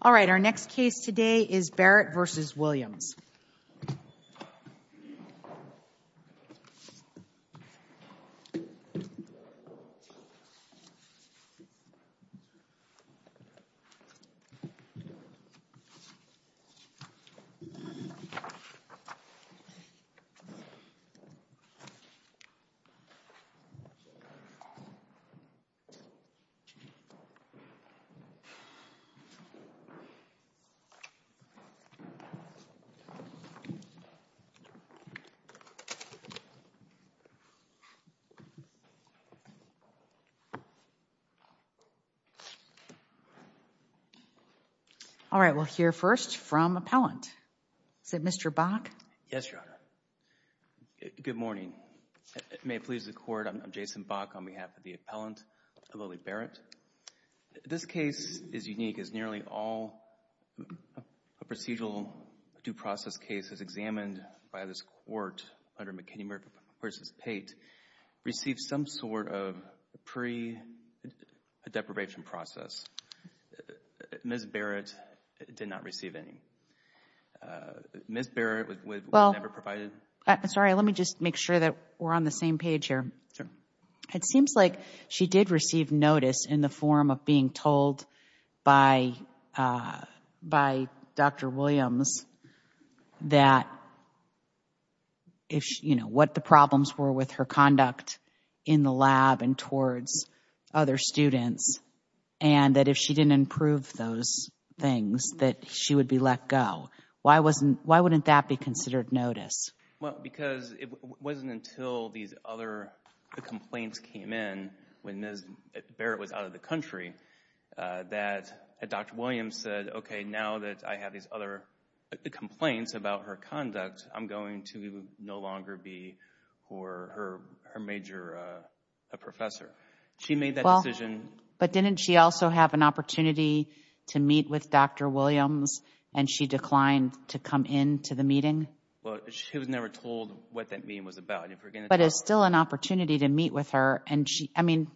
All right, our next case today is Barrett v. Williams. All right, we'll hear first from appellant. Is it Mr. Bach? Yes, Your Honor. Good morning. May it please the Court, I'm Jason Bach on behalf of the a procedural due process case as examined by this Court under McKinney v. Pate received some sort of pre-deprivation process. Ms. Barrett did not receive any. Ms. Barrett was never provided. Well, sorry, let me just make sure that we're on the same page here. Sure. It seems like she did receive notice in the form of being told by Dr. Williams that if you know what the problems were with her conduct in the lab and towards other students and that if she didn't improve those things that she would be let go. Why wouldn't that be considered notice? Well, because it wasn't until these other complaints came in when Ms. Barrett was out of the country that Dr. Williams said, okay, now that I have these other complaints about her conduct, I'm going to no longer be her major professor. She made that decision. Well, but didn't she also have an opportunity to meet with Dr. Williams and she declined to come into the meeting? Well, she was never told what that meeting was about. But it's still an opportunity to meet with her and she, I mean,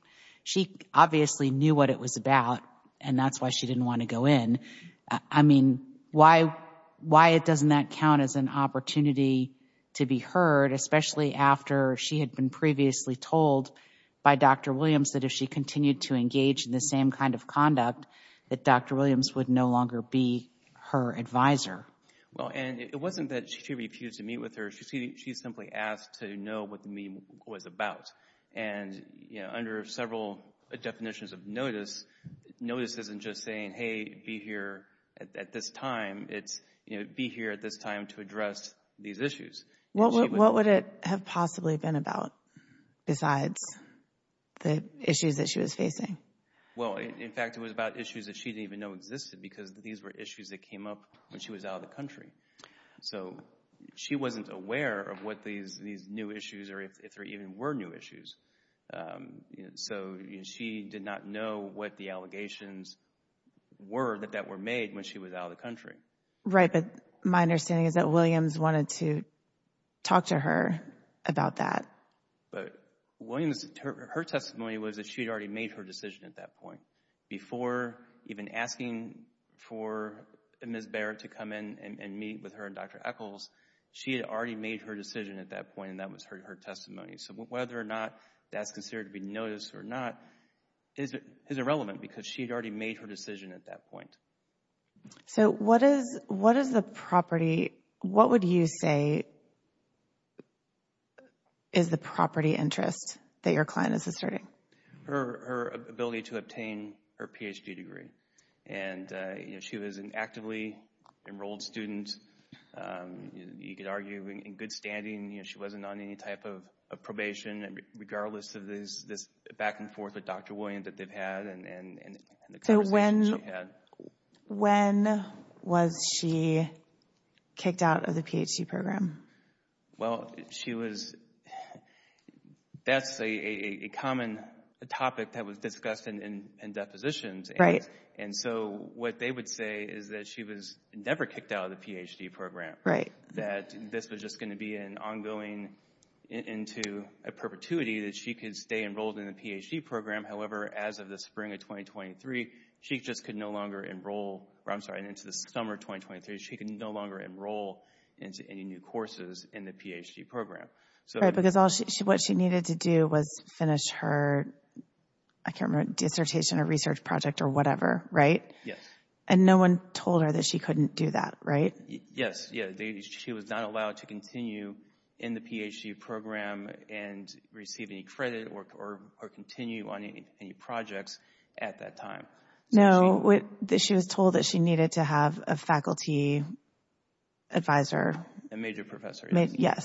she obviously knew what it was about and that's why she didn't want to go in. I mean, why doesn't that count as an opportunity to be heard, especially after she had been previously told by Dr. Williams that if she continued to engage in the same kind of conduct that Dr. Williams would no longer be her advisor? Well, and it wasn't that she refused to meet with her. She simply asked to know what the meeting was about. And, you know, under several definitions of notice, notice isn't just saying, hey, be here at this time. It's, you know, be here at this time to address these issues. What would it have possibly been about besides the issues that she was facing? Well, in fact, it was about issues that she didn't even know existed because these were out of the country. So she wasn't aware of what these new issues or if there even were new issues. So she did not know what the allegations were that were made when she was out of the Right, but my understanding is that Williams wanted to talk to her about that. But Williams, her testimony was that she had already made her decision at that point before even asking for Ms. Barrett to come in and meet with her and Dr. Echols. She had already made her decision at that point and that was her testimony. So whether or not that's considered to be noticed or not is irrelevant because she had already made her decision at that point. So what is the property, what would you say is the property interest that your client is asserting? Her ability to obtain her Ph.D. degree. And she was an actively enrolled student. You could argue in good standing. She wasn't on any type of probation regardless of this back and forth with Dr. Williams that they've had and the conversations they've had. So when was she kicked out of the Ph.D. program? Well, she was, that's a common topic that was discussed in depositions. And so what they would say is that she was never kicked out of the Ph.D. program. Right. That this was just going to be an ongoing, into a perpetuity that she could stay enrolled in the Ph.D. program. However, as of the spring of 2023, she just could no longer enroll, I'm sorry, into the summer of 2023, she could no longer enroll into any new courses in the Ph.D. program. Right, because what she needed to do was finish her, I can't remember, dissertation or research project or whatever, right? Yes. And no one told her that she couldn't do that, right? Yes. She was not allowed to continue in the Ph.D. program and receive any credit or continue on any projects at that time. No, she was told that she needed to have a faculty advisor. A major professor. Yes.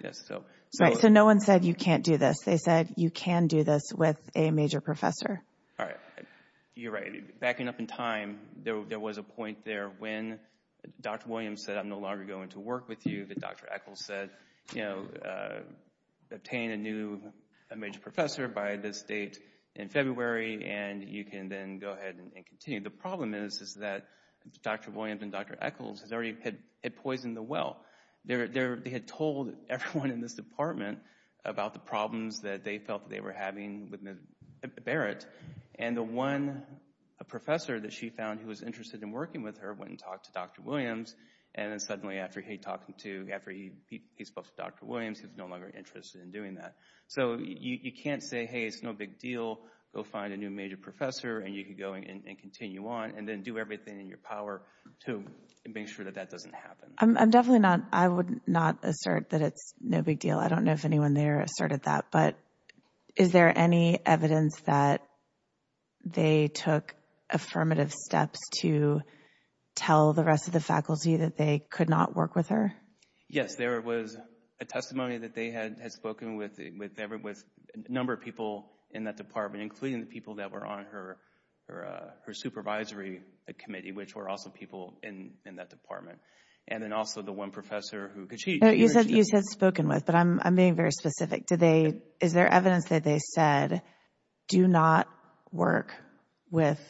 Yes, so. Right, so no one said you can't do this. They said you can do this with a major professor. All right, you're right. Backing up in time, there was a point there when Dr. Williams said I'm no longer going to work with you, but Dr. Echols said, you know, obtain a new major professor by this date in February, and you can then go ahead and continue. The problem is that Dr. Williams and Dr. Echols had already poisoned the well. They had told everyone in this department about the problems that they felt they were having with Barrett, and the one professor that she found who was interested in working with her went and talked to Dr. Williams, and then suddenly after he talked to Dr. Williams, he was no longer interested in doing that. So you can't say, hey, it's no big deal. Go find a new major professor, and you can go and continue on, and then do everything in your power to make sure that that doesn't happen. I'm definitely not, I would not assert that it's no big deal. I don't know if anyone there asserted that, but is there any evidence that they took affirmative steps to tell the rest of the faculty that they could not work with her? Yes, there was a testimony that they had spoken with a number of people in that department, including the people that were on her supervisory committee, which were also people in that department, and then also the one professor who, because she… She said spoken with, but I'm being very specific. Is there evidence that they said do not work with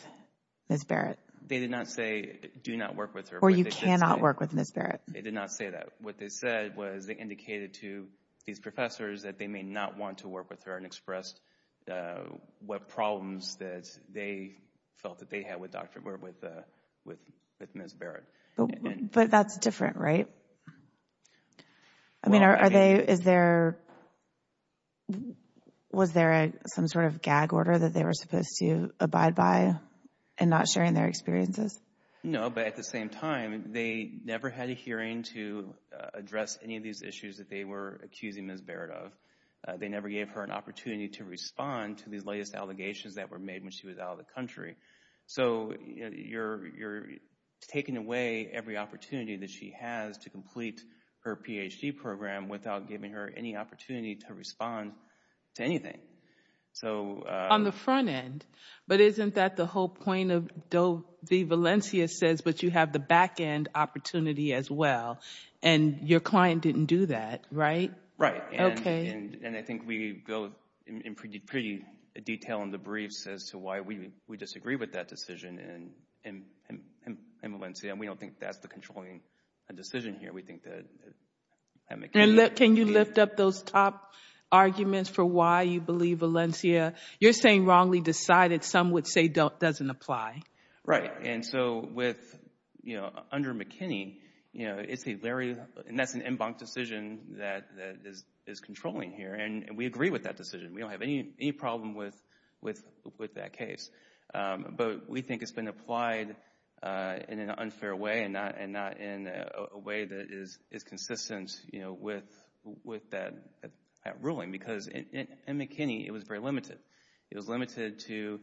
Ms. Barrett? They did not say do not work with her. Or you cannot work with Ms. Barrett. They did not say that. What they said was they indicated to these professors that they may not want to work with her and expressed what problems that they felt that they had with Ms. Barrett. But that's different, right? I mean, are they, is there, was there some sort of gag order that they were supposed to abide by and not sharing their experiences? No, but at the same time, they never had a hearing to address any of these issues that they were accusing Ms. Barrett of. They never gave her an opportunity to respond to these latest allegations that were made when she was out of the country. So, you're taking away every opportunity that she has to complete her Ph.D. program without giving her any opportunity to respond to anything. So… On the front end, but isn't that the whole point of the Valencia says, but you have the back end opportunity as well, and your client didn't do that, right? Right. Okay. And I think we go in pretty detail in the briefs as to why we disagree with that decision in Valencia, and we don't think that's the controlling decision here. We think that McKinney… And can you lift up those top arguments for why you believe Valencia? You're saying wrongly decided, some would say doesn't apply. Right. And so, under McKinney, that's an en banc decision that is controlling here, and we agree with that decision. We don't have any problem with that case, but we think it's been applied in an unfair way and not in a way that is consistent with that ruling because in McKinney, it was very limited. It was limited to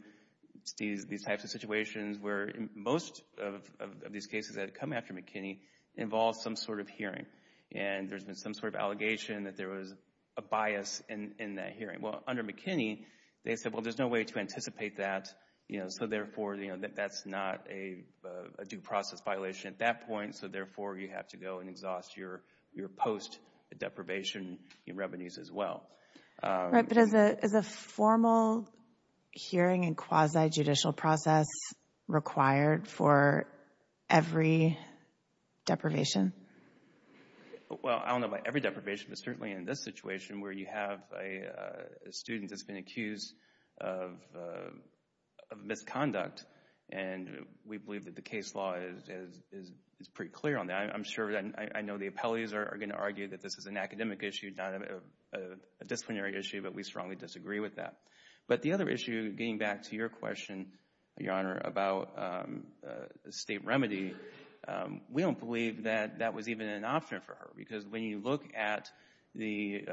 these types of situations where most of these cases that had come after McKinney involved some sort of hearing, and there's been some sort of allegation that there was a bias in that hearing. Well, under McKinney, they said, well, there's no way to anticipate that, you know, so therefore that's not a due process violation at that point, and so therefore you have to go and exhaust your post-deprivation revenues as well. Right, but is a formal hearing and quasi-judicial process required for every deprivation? Well, I don't know about every deprivation, but certainly in this situation where you have a student that's been accused of misconduct, and we believe that the case law is pretty clear on that. I know the appellees are going to argue that this is an academic issue, not a disciplinary issue, but we strongly disagree with that. But the other issue, getting back to your question, Your Honor, about the state remedy, we don't believe that that was even an option for her because when you look at the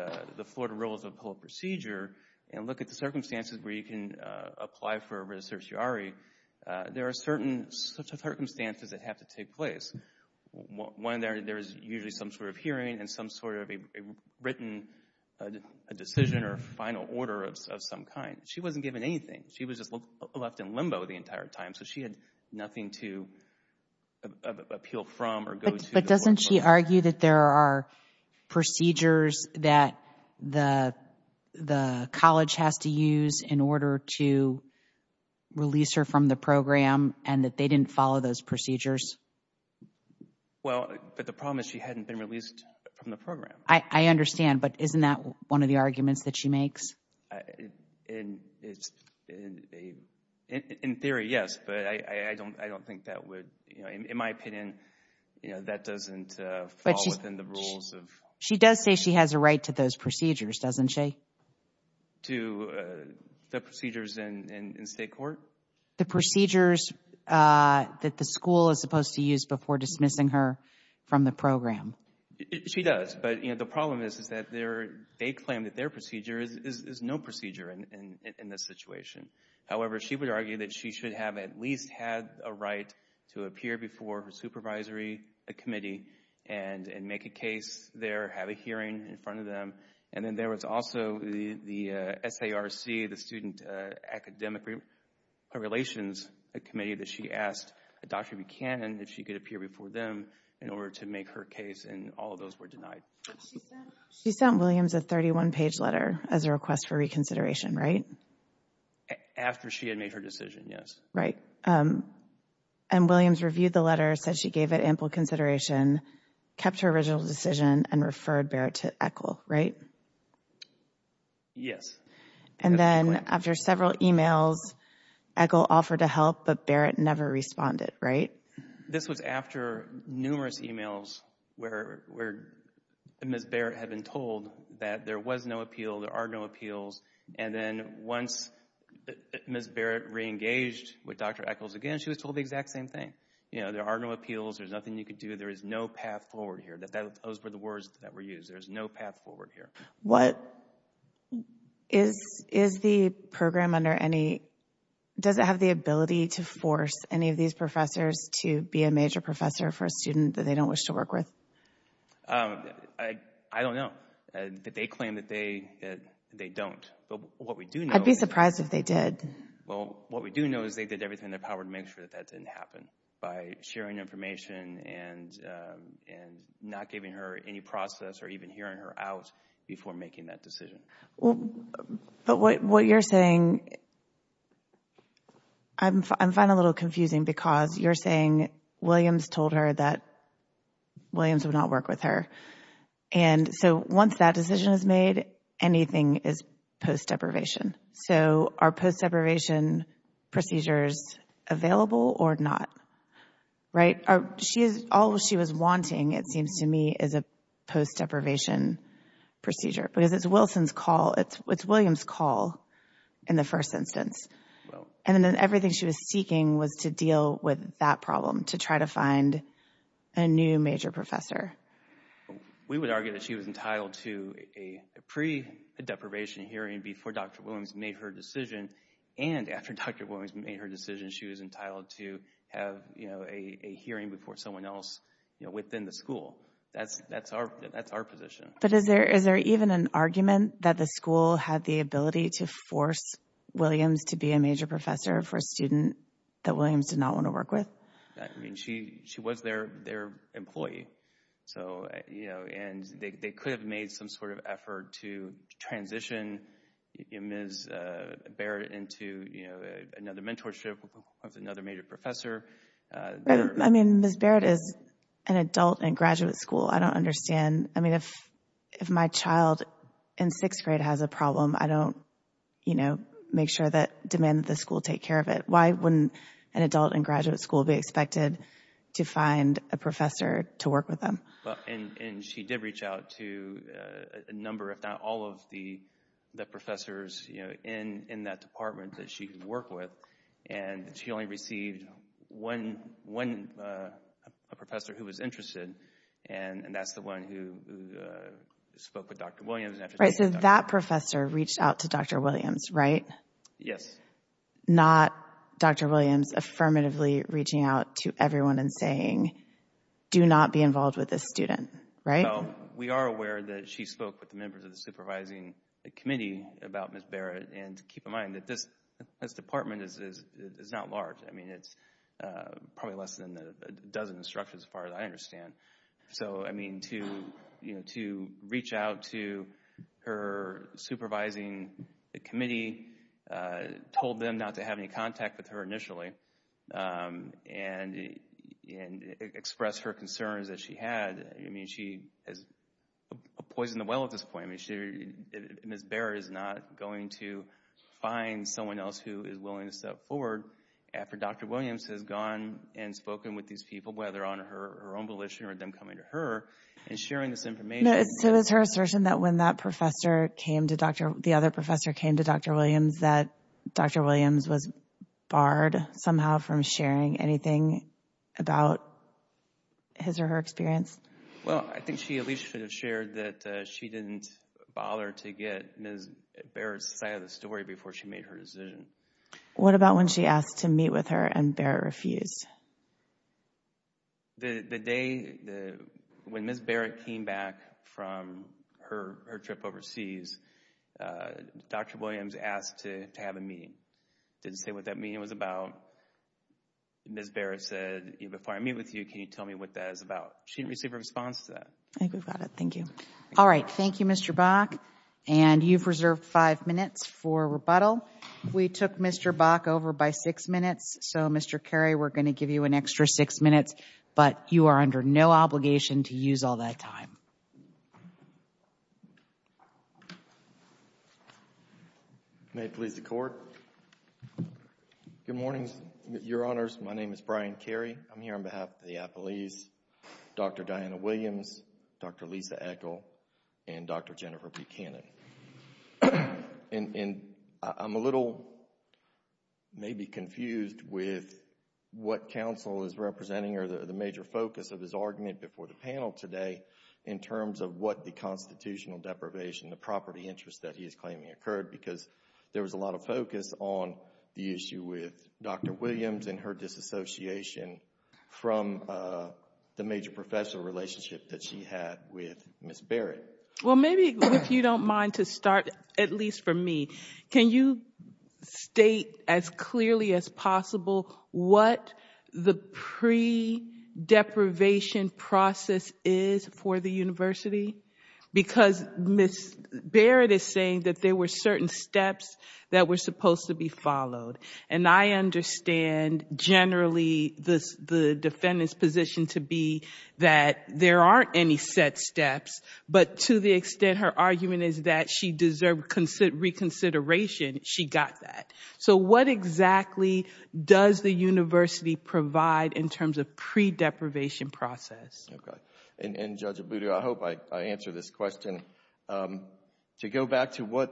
Florida Rules of Appellate Procedure and look at the circumstances where you can apply for a res certiorari, there are certain circumstances that have to take place. One, there is usually some sort of hearing and some sort of a written decision or final order of some kind. She wasn't given anything. She was just left in limbo the entire time, so she had nothing to appeal from or go to. But doesn't she argue that there are procedures that the college has to use in order to release her from the program and that they didn't follow those procedures? Well, but the problem is she hadn't been released from the program. I understand, but isn't that one of the arguments that she makes? In theory, yes, but I don't think that would, in my opinion, that doesn't fall within the rules of She does say she has a right to those procedures, doesn't she? To the procedures in state court? The procedures that the school is supposed to use before dismissing her from the program. She does, but the problem is that they claim that their procedure is no procedure in this situation. However, she would argue that she should have at least had a right to appear before her supervisory committee and make a case there, have a hearing in front of them. And then there was also the SARC, the Student Academic Relations Committee, that she asked Dr. Buchanan if she could appear before them in order to make her case, and all of those were denied. She sent Williams a 31-page letter as a request for reconsideration, right? After she had made her decision, yes. Right. And Williams reviewed the letter, said she gave it ample consideration, kept her original decision, and referred Barrett to ECHL, right? Yes. And then after several emails, ECHL offered to help, but Barrett never responded, right? This was after numerous emails where Ms. Barrett had been told that there was no appeal, there are no appeals, and then once Ms. Barrett reengaged with Dr. ECHL again, she was told the exact same thing. You know, there are no appeals, there's nothing you can do, there is no path forward here. Those were the words that were used, there's no path forward here. What is the program under any— does it have the ability to force any of these professors to be a major professor for a student that they don't wish to work with? I don't know. They claim that they don't, but what we do know— I'd be surprised if they did. Well, what we do know is they did everything in their power to make sure that that didn't happen. By sharing information and not giving her any process or even hearing her out before making that decision. Well, but what you're saying— I find it a little confusing because you're saying Williams told her that Williams would not work with her. And so once that decision is made, anything is post-deprivation. So are post-deprivation procedures available or not? Right? All she was wanting, it seems to me, is a post-deprivation procedure. Because it's Williams' call in the first instance. And then everything she was seeking was to deal with that problem, to try to find a new major professor. We would argue that she was entitled to a pre-deprivation hearing before Dr. Williams made her decision. And after Dr. Williams made her decision, she was entitled to have a hearing before someone else within the school. That's our position. But is there even an argument that the school had the ability to force Williams to be a major professor for a student that Williams did not want to work with? I mean, she was their employee. And they could have made some sort of effort to transition Ms. Barrett into another mentorship with another major professor. I mean, Ms. Barrett is an adult in graduate school. I don't understand. I mean, if my child in sixth grade has a problem, I don't make sure that demand that the school take care of it. Why wouldn't an adult in graduate school be expected to find a professor to work with them? And she did reach out to a number, if not all, of the professors in that department that she could work with. And she only received one professor who was interested, and that's the one who spoke with Dr. Williams. So that professor reached out to Dr. Williams, right? Yes. Not Dr. Williams affirmatively reaching out to everyone and saying, do not be involved with this student, right? No. We are aware that she spoke with the members of the supervising committee about Ms. Barrett. And keep in mind that this department is not large. I mean, it's probably less than a dozen instructors as far as I understand. So, I mean, to reach out to her supervising committee, told them not to have any contact with her initially, and expressed her concerns that she had. I mean, she has poisoned the well at this point. Ms. Barrett is not going to find someone else who is willing to step forward after Dr. Williams has gone and spoken with these people, whether on her own volition or them coming to her and sharing this information. So is her assertion that when that professor came to Dr. – the other professor came to Dr. Williams, that Dr. Williams was barred somehow from sharing anything about his or her experience? Well, I think she at least should have shared that she didn't bother to get Ms. Barrett's side of the story before she made her decision. What about when she asked to meet with her and Barrett refused? The day when Ms. Barrett came back from her trip overseas, Dr. Williams asked to have a meeting. Didn't say what that meeting was about. Ms. Barrett said, before I meet with you, can you tell me what that is about? She didn't receive a response to that. I think we've got it. Thank you. All right. Thank you, Mr. Bach. And you've reserved five minutes for rebuttal. We took Mr. Bach over by six minutes. So, Mr. Carey, we're going to give you an extra six minutes, but you are under no obligation to use all that time. May it please the Court. Good morning, Your Honors. My name is Brian Carey. I'm here on behalf of the appellees, Dr. Diana Williams, Dr. Lisa Echol, and Dr. Jennifer Buchanan. And I'm a little maybe confused with what counsel is representing or the major focus of his argument before the panel today in terms of what the constitutional deprivation, the property interest that he is claiming occurred, because there was a lot of focus on the issue with Dr. Williams and her disassociation from the major professional relationship that she had with Ms. Barrett. Well, maybe if you don't mind to start, at least for me, can you state as clearly as possible what the pre-deprivation process is for the university? Because Ms. Barrett is saying that there were certain steps that were supposed to be followed, and I understand generally the defendant's position to be that there aren't any set steps, but to the extent her argument is that she deserved reconsideration, she got that. So what exactly does the university provide in terms of pre-deprivation process? Okay. And Judge Abudu, I hope I answered this question. To go back to what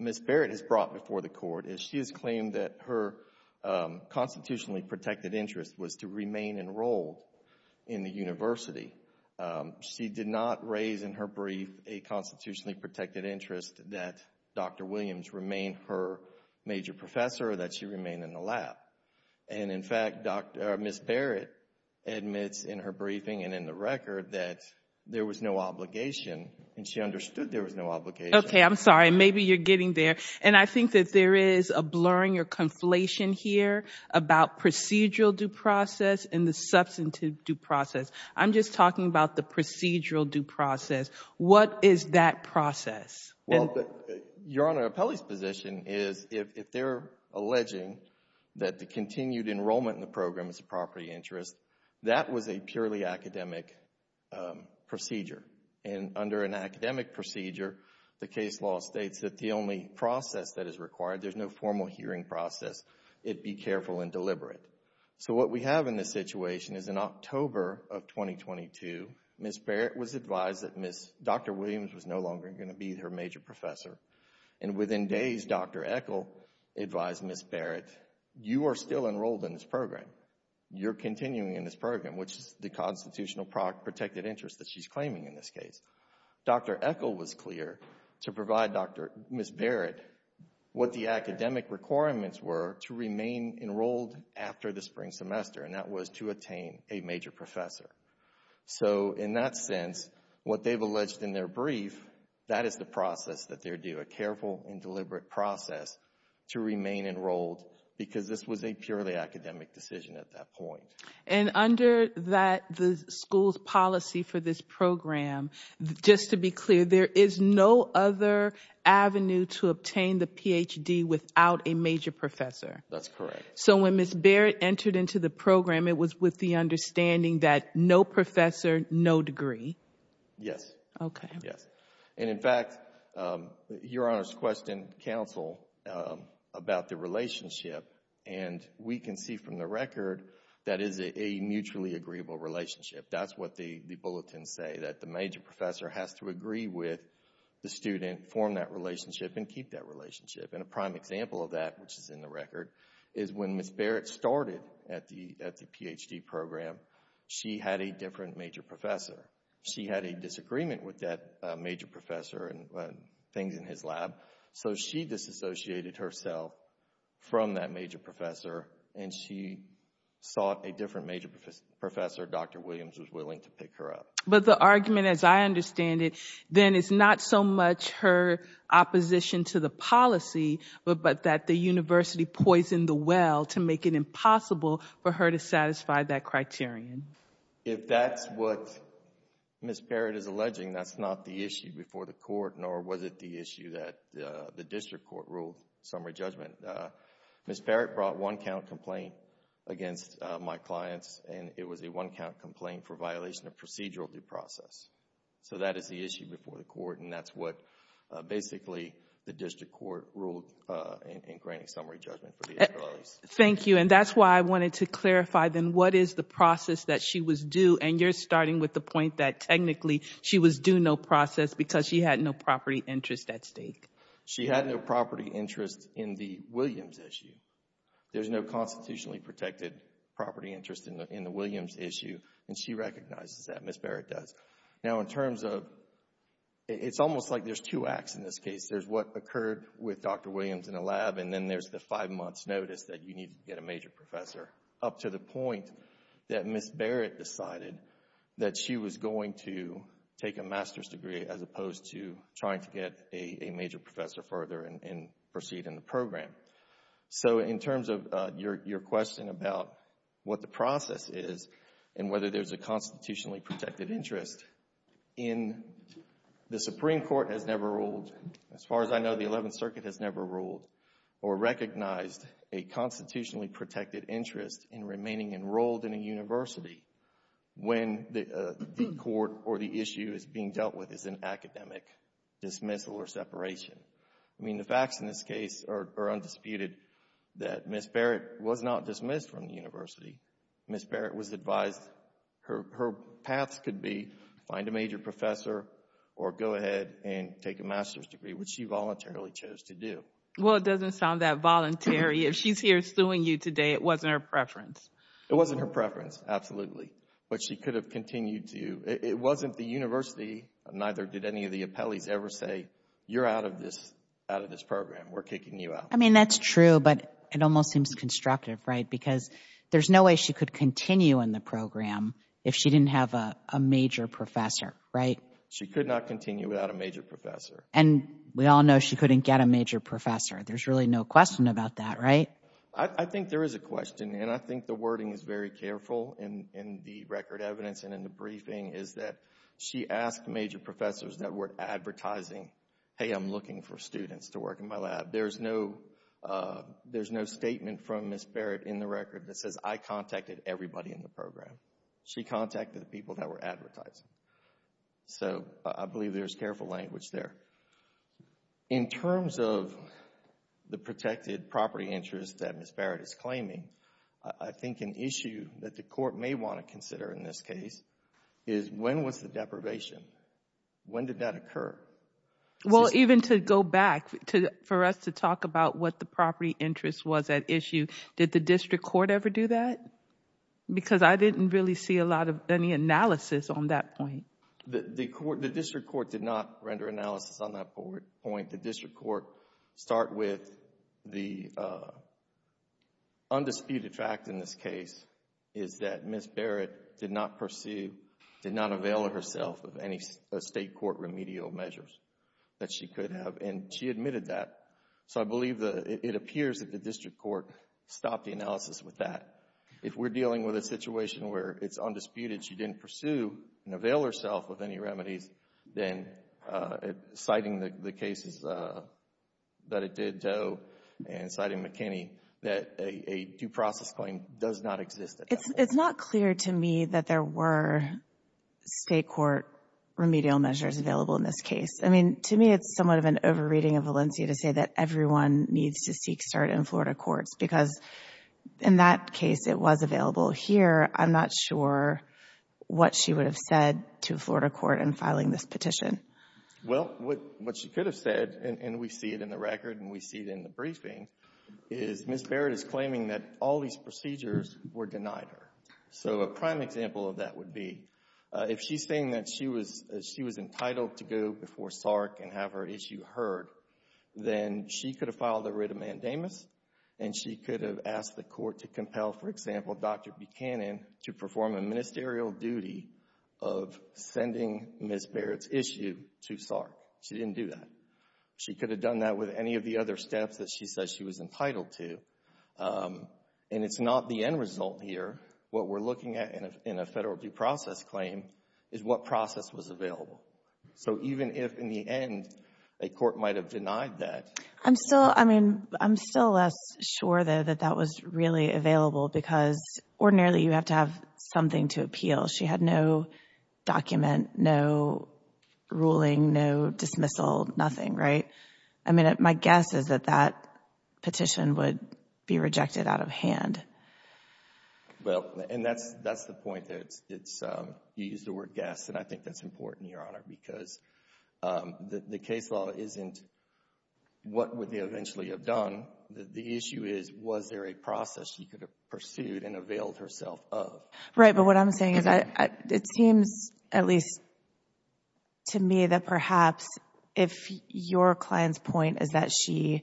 Ms. Barrett has brought before the court is she has claimed that her constitutionally protected interest was to remain enrolled in the university. She did not raise in her brief a constitutionally protected interest that Dr. Williams remained her major professor, that she remained in the lab. And, in fact, Ms. Barrett admits in her briefing and in the record that there was no obligation, and she understood there was no obligation. Okay, I'm sorry. Maybe you're getting there. And I think that there is a blurring or conflation here about procedural due process and the substantive due process. I'm just talking about the procedural due process. What is that process? Your Honor, Appelli's position is if they're alleging that the continued enrollment in the program is a property interest, that was a purely academic procedure. And under an academic procedure, the case law states that the only process that is required, there's no formal hearing process, it be careful and deliberate. So what we have in this situation is in October of 2022, Ms. Barrett was advised that Dr. Williams was no longer going to be her major professor. And within days, Dr. Echol advised Ms. Barrett, you are still enrolled in this program. You're continuing in this program, which is the constitutional protected interest that she's claiming in this case. Dr. Echol was clear to provide Ms. Barrett what the academic requirements were to remain enrolled after the spring semester, and that was to attain a major professor. So in that sense, what they've alleged in their brief, that is the process that they're due, a careful and deliberate process to remain enrolled because this was a purely academic decision at that point. And under the school's policy for this program, just to be clear, there is no other avenue to obtain the PhD without a major professor. That's correct. So when Ms. Barrett entered into the program, it was with the understanding that no professor, no degree. Yes. Okay. Yes. And in fact, Your Honor's questioned counsel about the relationship, and we can see from the record that is a mutually agreeable relationship. That's what the bulletins say, that the major professor has to agree with the student, form that relationship, and keep that relationship. And a prime example of that, which is in the record, is when Ms. Barrett started at the PhD program, she had a different major professor. She had a disagreement with that major professor and things in his lab, so she disassociated herself from that major professor, and she sought a different major professor. Dr. Williams was willing to pick her up. But the argument, as I understand it, then is not so much her opposition to the policy, but that the university poisoned the well to make it impossible for her to satisfy that criterion. If that's what Ms. Barrett is alleging, that's not the issue before the court, nor was it the issue that the district court ruled in summary judgment. Ms. Barrett brought one-count complaint against my clients, and it was a one-count complaint for violation of procedural due process. So that is the issue before the court, and that's what basically the district court ruled in granting summary judgment for the Israelis. Thank you, and that's why I wanted to clarify, then, what is the process that she was due? And you're starting with the point that technically she was due no process because she had no property interest at stake. She had no property interest in the Williams issue. There's no constitutionally protected property interest in the Williams issue, and she recognizes that. Ms. Barrett does. Now, in terms of... It's almost like there's two acts in this case. There's what occurred with Dr. Williams in a lab, and then there's the five-months notice that you needed to get a major professor, up to the point that Ms. Barrett decided that she was going to take a master's degree as opposed to trying to get a major professor further and proceed in the program. So in terms of your question about what the process is and whether there's a constitutionally protected interest in... The Supreme Court has never ruled, as far as I know, the Eleventh Circuit has never ruled or recognized a constitutionally protected interest in remaining enrolled in a university when the court or the issue is being dealt with as an academic dismissal or separation. I mean, the facts in this case are undisputed that Ms. Barrett was not dismissed from the university. Ms. Barrett was advised her paths could be find a major professor or go ahead and take a master's degree, which she voluntarily chose to do. Well, it doesn't sound that voluntary. If she's here suing you today, it wasn't her preference. It wasn't her preference, absolutely, but she could have continued to... It wasn't the university, neither did any of the appellees ever say, you're out of this program, we're kicking you out. I mean, that's true, but it almost seems constructive, right? Because there's no way she could continue in the program if she didn't have a major professor, right? She could not continue without a major professor. And we all know she couldn't get a major professor. There's really no question about that, right? I think there is a question, and I think the wording is very careful in the record evidence and in the briefing is that she asked major professors that were advertising, hey, I'm looking for students to work in my lab. There's no statement from Ms. Barrett in the record that says I contacted everybody in the program. She contacted the people that were advertising. So I believe there's careful language there. In terms of the protected property interest that Ms. Barrett is claiming, I think an issue that the court may want to consider in this case is when was the deprivation? When did that occur? Well, even to go back for us to talk about what the property interest was at issue, did the district court ever do that? Because I didn't really see a lot of any analysis on that point. The district court did not render analysis on that point. The district court start with the undisputed fact in this case is that Ms. Barrett did not pursue, did not avail herself of any state court remedial measures that she could have, and she admitted that. So I believe it appears that the district court stopped the analysis with that. If we're dealing with a situation where it's undisputed, she didn't pursue and avail herself of any remedies, then citing the cases that it did to Owe and citing McKinney, that a due process claim does not exist at that point. It's not clear to me that there were state court remedial measures available in this case. I mean, to me it's somewhat of an over-reading of Valencia to say that everyone needs to seek start in Florida courts because in that case it was available. Here, I'm not sure what she would have said to a Florida court in filing this petition. Well, what she could have said, and we see it in the record and we see it in the briefing, is Ms. Barrett is claiming that all these procedures were denied her. So a prime example of that would be if she's saying that she was entitled to go before SARC and have her issue heard, then she could have filed a writ of mandamus and she could have asked the court to compel, for example, Dr. Buchanan to perform a ministerial duty of sending Ms. Barrett's issue to SARC. She didn't do that. She could have done that with any of the other steps that she says she was entitled to. And it's not the end result here. What we're looking at in a federal due process claim is what process was available. So even if in the end a court might have denied that. I'm still, I mean, I'm still less sure, though, that that was really available because ordinarily you have to have something to appeal. She had no document, no ruling, no dismissal, nothing, right? I mean, my guess is that that petition would be rejected out of hand. Well, and that's the point. You used the word guess, and I think that's important, Your Honor, because the case law isn't what would they eventually have done. The issue is was there a process she could have pursued and availed herself of? Right, but what I'm saying is it seems at least to me that perhaps if your client's point is that she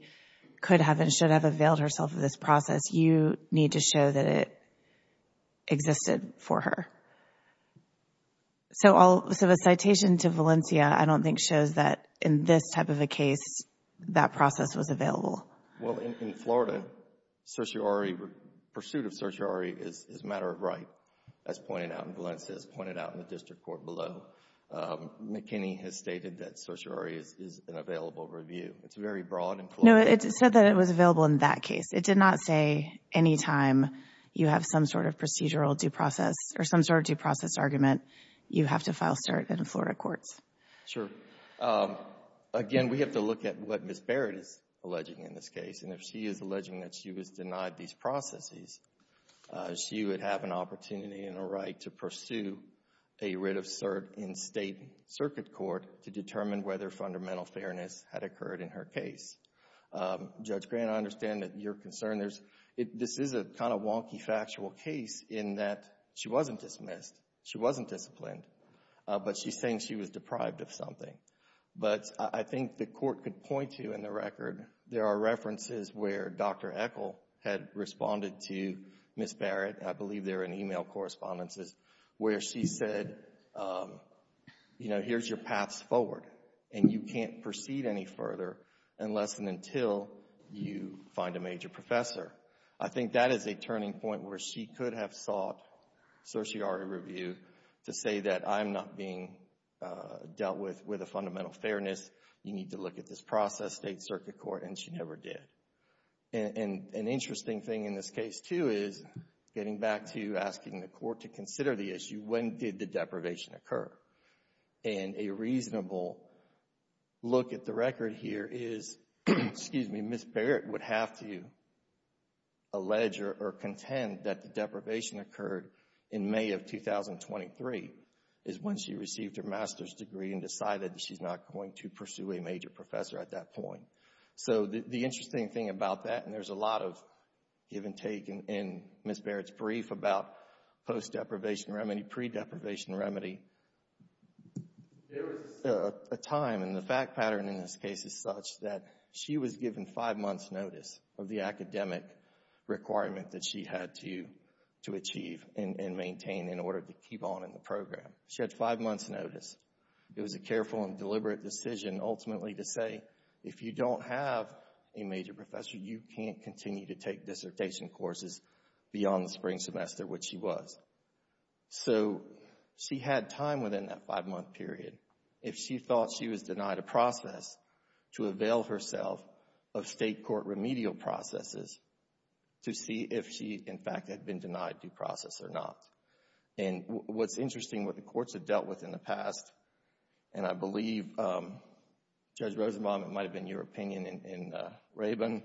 could have and should have availed herself of this process, you need to show that it existed for her. So a citation to Valencia I don't think shows that in this type of a case that process was available. Well, in Florida, pursuit of certiorari is a matter of right, as Valencia has pointed out in the district court below. McKinney has stated that certiorari is an available review. It's very broad and clear. No, it said that it was available in that case. It did not say any time you have some sort of procedural due process or some sort of due process argument, you have to file cert in Florida courts. Sure. Again, we have to look at what Ms. Barrett is alleging in this case, and if she is alleging that she was denied these processes, she would have an opportunity and a right to pursue a writ of cert in state circuit court to determine whether fundamental fairness had occurred in her case. Judge Grant, I understand that you're concerned. This is a kind of wonky factual case in that she wasn't dismissed. She wasn't disciplined. But she's saying she was deprived of something. But I think the court could point to in the record, there are references where Dr. Echol had responded to Ms. Barrett, I believe there are email correspondences, where she said, you know, here's your paths forward, and you can't proceed any further unless and until you find a major professor. I think that is a turning point where she could have sought certiorari review to say that I'm not being dealt with with a fundamental fairness. You need to look at this process, state circuit court, and she never did. And an interesting thing in this case, too, is getting back to asking the court to consider the issue, when did the deprivation occur? And a reasonable look at the record here is, excuse me, Ms. Barrett would have to allege or contend that the deprivation occurred in May of 2023 is when she received her master's degree and decided that she's not going to pursue a major professor at that point. So the interesting thing about that, and there's a lot of give and take in Ms. Barrett's brief about post-deprivation remedy, pre-deprivation remedy, there was a time, and the fact pattern in this case is such, that she was given five months' notice of the academic requirement that she had to achieve and maintain in order to keep on in the program. She had five months' notice. It was a careful and deliberate decision, ultimately, to say, if you don't have a major professor, you can't continue to take dissertation courses beyond the spring semester, which she was. So she had time within that five-month period. If she thought she was denied a process to avail herself of state court remedial processes to see if she, in fact, had been denied due process or not. And what's interesting, what the courts have dealt with in the past, and I believe, Judge Rosenbaum, it might have been your opinion in Rabin,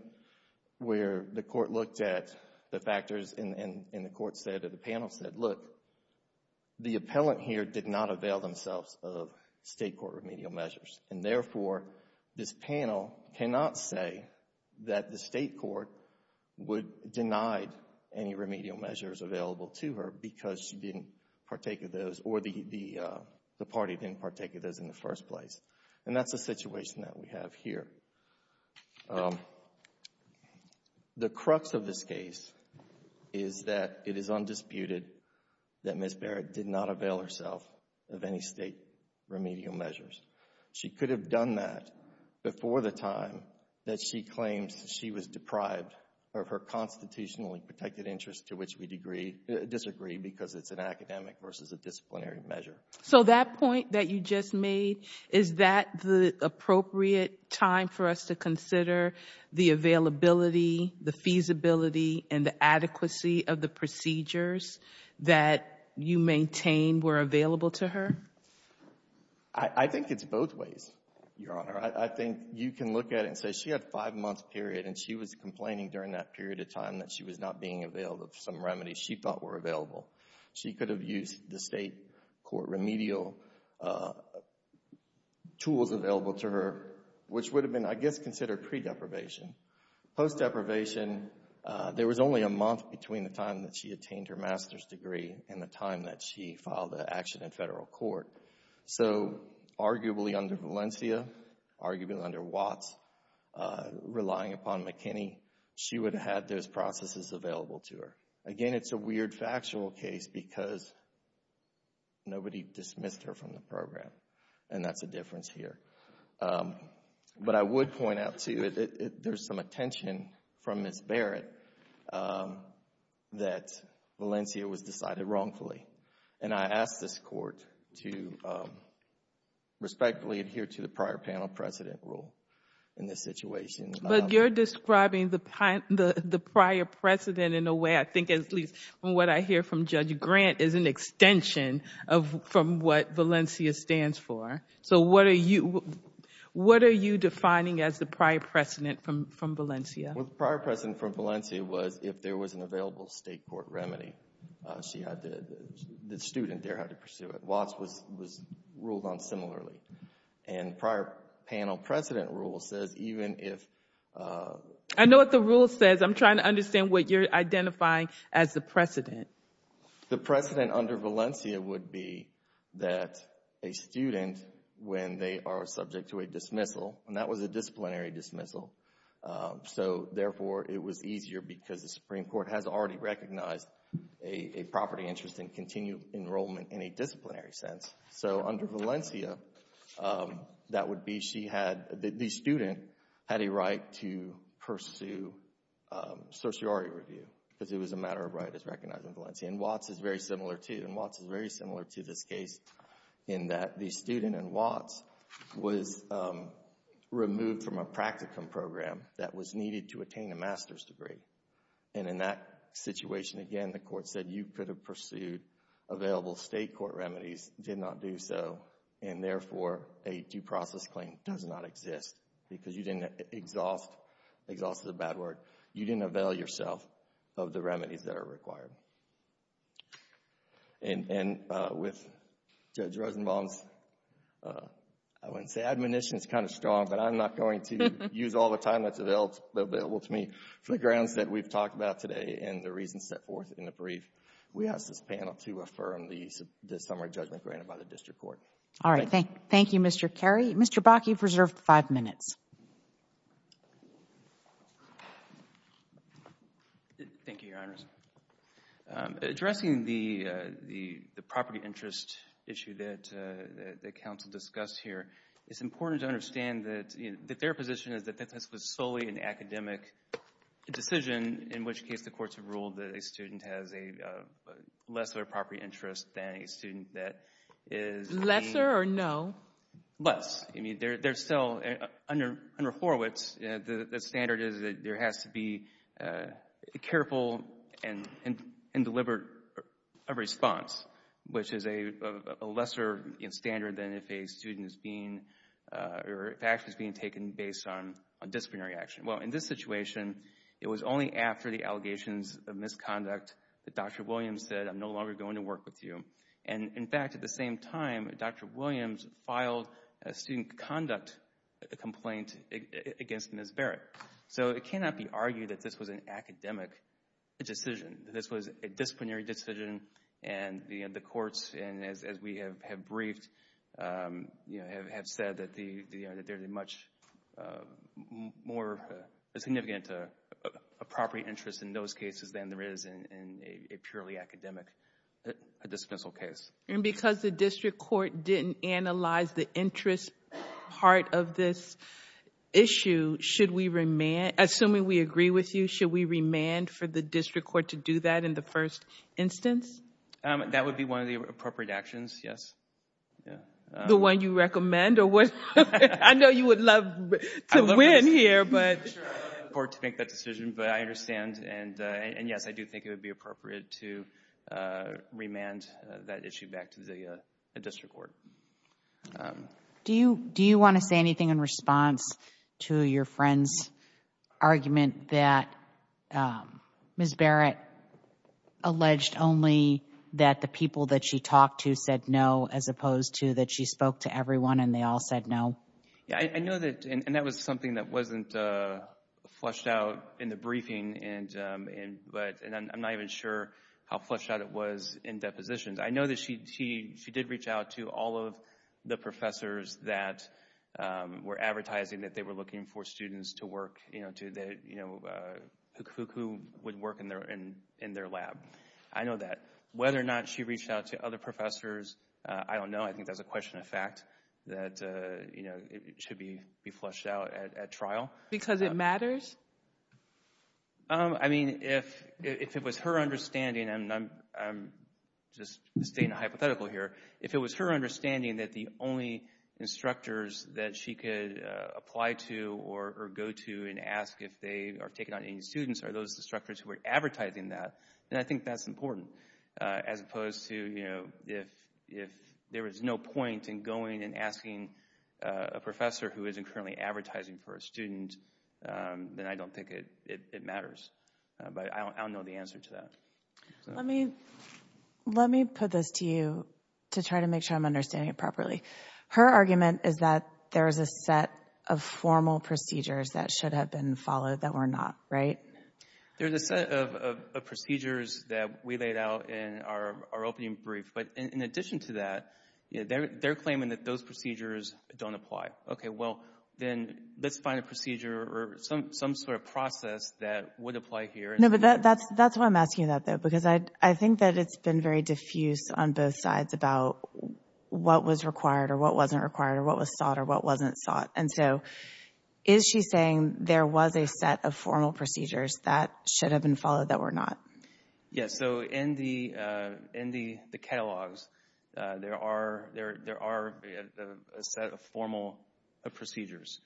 where the court looked at the factors and the court said or the panel said, look, the appellant here did not avail themselves of state court remedial measures. And therefore, this panel cannot say that the state court would deny any remedial measures available to her because she didn't partake of those or the party didn't partake of those in the first place. And that's the situation that we have here. The crux of this case is that it is undisputed that Ms. Barrett did not avail herself of any state remedial measures. She could have done that before the time that she claims she was deprived of her constitutionally protected interest to which we disagree because it's an academic versus a disciplinary measure. So that point that you just made, is that the appropriate time for us to consider the availability, the feasibility, and the adequacy of the procedures that you maintain were available to her? I think it's both ways, Your Honor. I think you can look at it and say she had a five-month period and she was complaining during that period of time that she was not being available of some remedies she thought were available. She could have used the state court remedial tools available to her, which would have been, I guess, considered pre-deprivation. Post-deprivation, there was only a month between the time that she attained her master's degree and the time that she filed an action in federal court. So arguably under Valencia, arguably under Watts, relying upon McKinney, she would have had those processes available to her. Again, it's a weird factual case because nobody dismissed her from the program, and that's a difference here. But I would point out, too, there's some attention from Ms. Barrett that Valencia was decided wrongfully. And I ask this court to respectfully adhere to the prior panel precedent rule in this situation. But you're describing the prior precedent in a way, I think at least from what I hear from Judge Grant, is an extension from what Valencia stands for. So what are you defining as the prior precedent from Valencia? Well, the prior precedent from Valencia was if there was an available state court remedy. The student there had to pursue it. Watts was ruled on similarly. And prior panel precedent rule says even if... I know what the rule says. I'm trying to understand what you're identifying as the precedent. The precedent under Valencia would be that a student, when they are subject to a dismissal, and that was a disciplinary dismissal, so, therefore, it was easier because the Supreme Court has already recognized a property interest in continued enrollment in a disciplinary sense. So under Valencia, that would be she had... the student had a right to pursue sociority review because it was a matter of right as recognized in Valencia. And Watts is very similar, too. And Watts is very similar to this case in that the student in Watts was removed from a practicum program that was needed to attain a master's degree. And in that situation, again, the court said you could have pursued available state court remedies, did not do so, and, therefore, a due process claim does not exist because you didn't exhaust... Exhaust is a bad word. You didn't avail yourself of the remedies that are required. And with Judge Rosenbaum's... I wouldn't say admonition is kind of strong, but I'm not going to use all the time that's available to me for the grounds that we've talked about today and the reasons set forth in the brief. We ask this panel to affirm the summary judgment granted by the district court. All right, thank you, Mr. Carey. Mr. Bakke, you've reserved five minutes. Thank you, Your Honors. Addressing the property interest issue that counsel discussed here, it's important to understand that their position is that this was solely an academic decision, in which case the courts have ruled that a student has a lesser property interest than a student that is... Lesser or no? Less. I mean, there's still, under Horowitz, the standard is that there has to be a careful and deliberate response, which is a lesser standard than if a student is being... or if action is being taken based on disciplinary action. Well, in this situation, it was only after the allegations of misconduct that Dr. Williams said, I'm no longer going to work with you. And, in fact, at the same time, Dr. Williams filed a student conduct complaint against Ms. Barrett. So it cannot be argued that this was an academic decision. This was a disciplinary decision, and the courts, as we have briefed, have said that there's a much more significant property interest in those cases than there is in a purely academic, a dispensable case. And because the district court didn't analyze the interest part of this issue, should we remand... Assuming we agree with you, should we remand for the district court to do that in the first instance? That would be one of the appropriate actions, yes. The one you recommend? I know you would love to win here, but... I'd love for the court to make that decision, but I understand, and yes, I do think it would be appropriate to remand that issue back to the district court. Do you want to say anything in response to your friend's argument that Ms. Barrett alleged only that the people that she talked to said no as opposed to that she spoke to everyone and they all said no? I know that, and that was something that wasn't flushed out in the briefing, and I'm not even sure how flushed out it was in depositions. I know that she did reach out to all of the professors that were advertising that they were looking for students to work, you know, who would work in their lab. I know that. Whether or not she reached out to other professors, I don't know. I think that's a question of fact that should be flushed out at trial. Because it matters? I mean, if it was her understanding, and I'm just stating a hypothetical here, if it was her understanding that the only instructors that she could apply to or go to and ask if they are taking on any students are those instructors who were advertising that, then I think that's important as opposed to, you know, if there was no point in going and asking a professor who isn't currently advertising for a student, then I don't think it matters. But I don't know the answer to that. Let me put this to you to try to make sure I'm understanding it properly. Her argument is that there is a set of formal procedures that should have been followed that were not, right? There's a set of procedures that we laid out in our opening brief. But in addition to that, they're claiming that those procedures don't apply. Okay, well, then let's find a procedure or some sort of process that would apply here. No, but that's why I'm asking you that, though, because I think that it's been very diffuse on both sides about what was required or what wasn't required or what was sought or what wasn't sought. And so is she saying there was a set of formal procedures that should have been followed that were not? Yes, so in the catalogs, there are a set of formal procedures.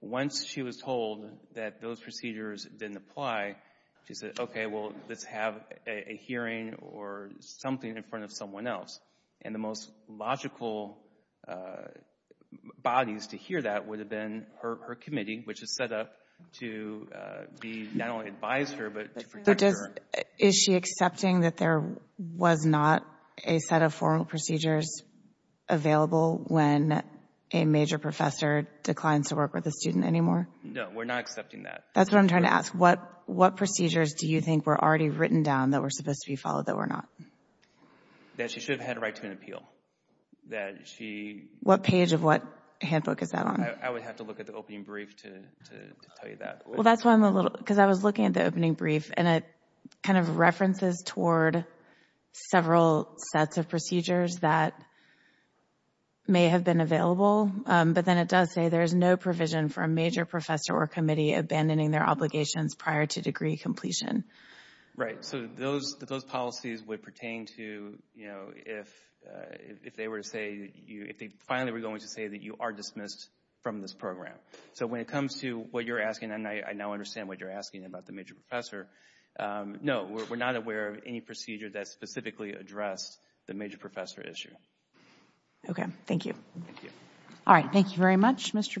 Once she was told that those procedures didn't apply, she said, okay, well, let's have a hearing or something in front of someone else. And the most logical bodies to hear that would have been her committee, which is set up to not only advise her but to protect her. But is she accepting that there was not a set of formal procedures available when a major professor declines to work with a student anymore? No, we're not accepting that. That's what I'm trying to ask. What procedures do you think were already written down that were supposed to be followed that were not? That she should have had a right to an appeal, that she... What page of what handbook is that on? I would have to look at the opening brief to tell you that. Well, that's why I'm a little... because I was looking at the opening brief, and it kind of references toward several sets of procedures that may have been available, but then it does say there is no provision for a major professor or committee abandoning their obligations prior to degree completion. Right, so those policies would pertain to, you know, if they were to say... if they finally were going to say that you are dismissed from this program. So when it comes to what you're asking, and I now understand what you're asking about the major professor, no, we're not aware of any procedure that specifically addressed the major professor issue. Okay, thank you. Thank you. Thank you very much, Mr. Bach.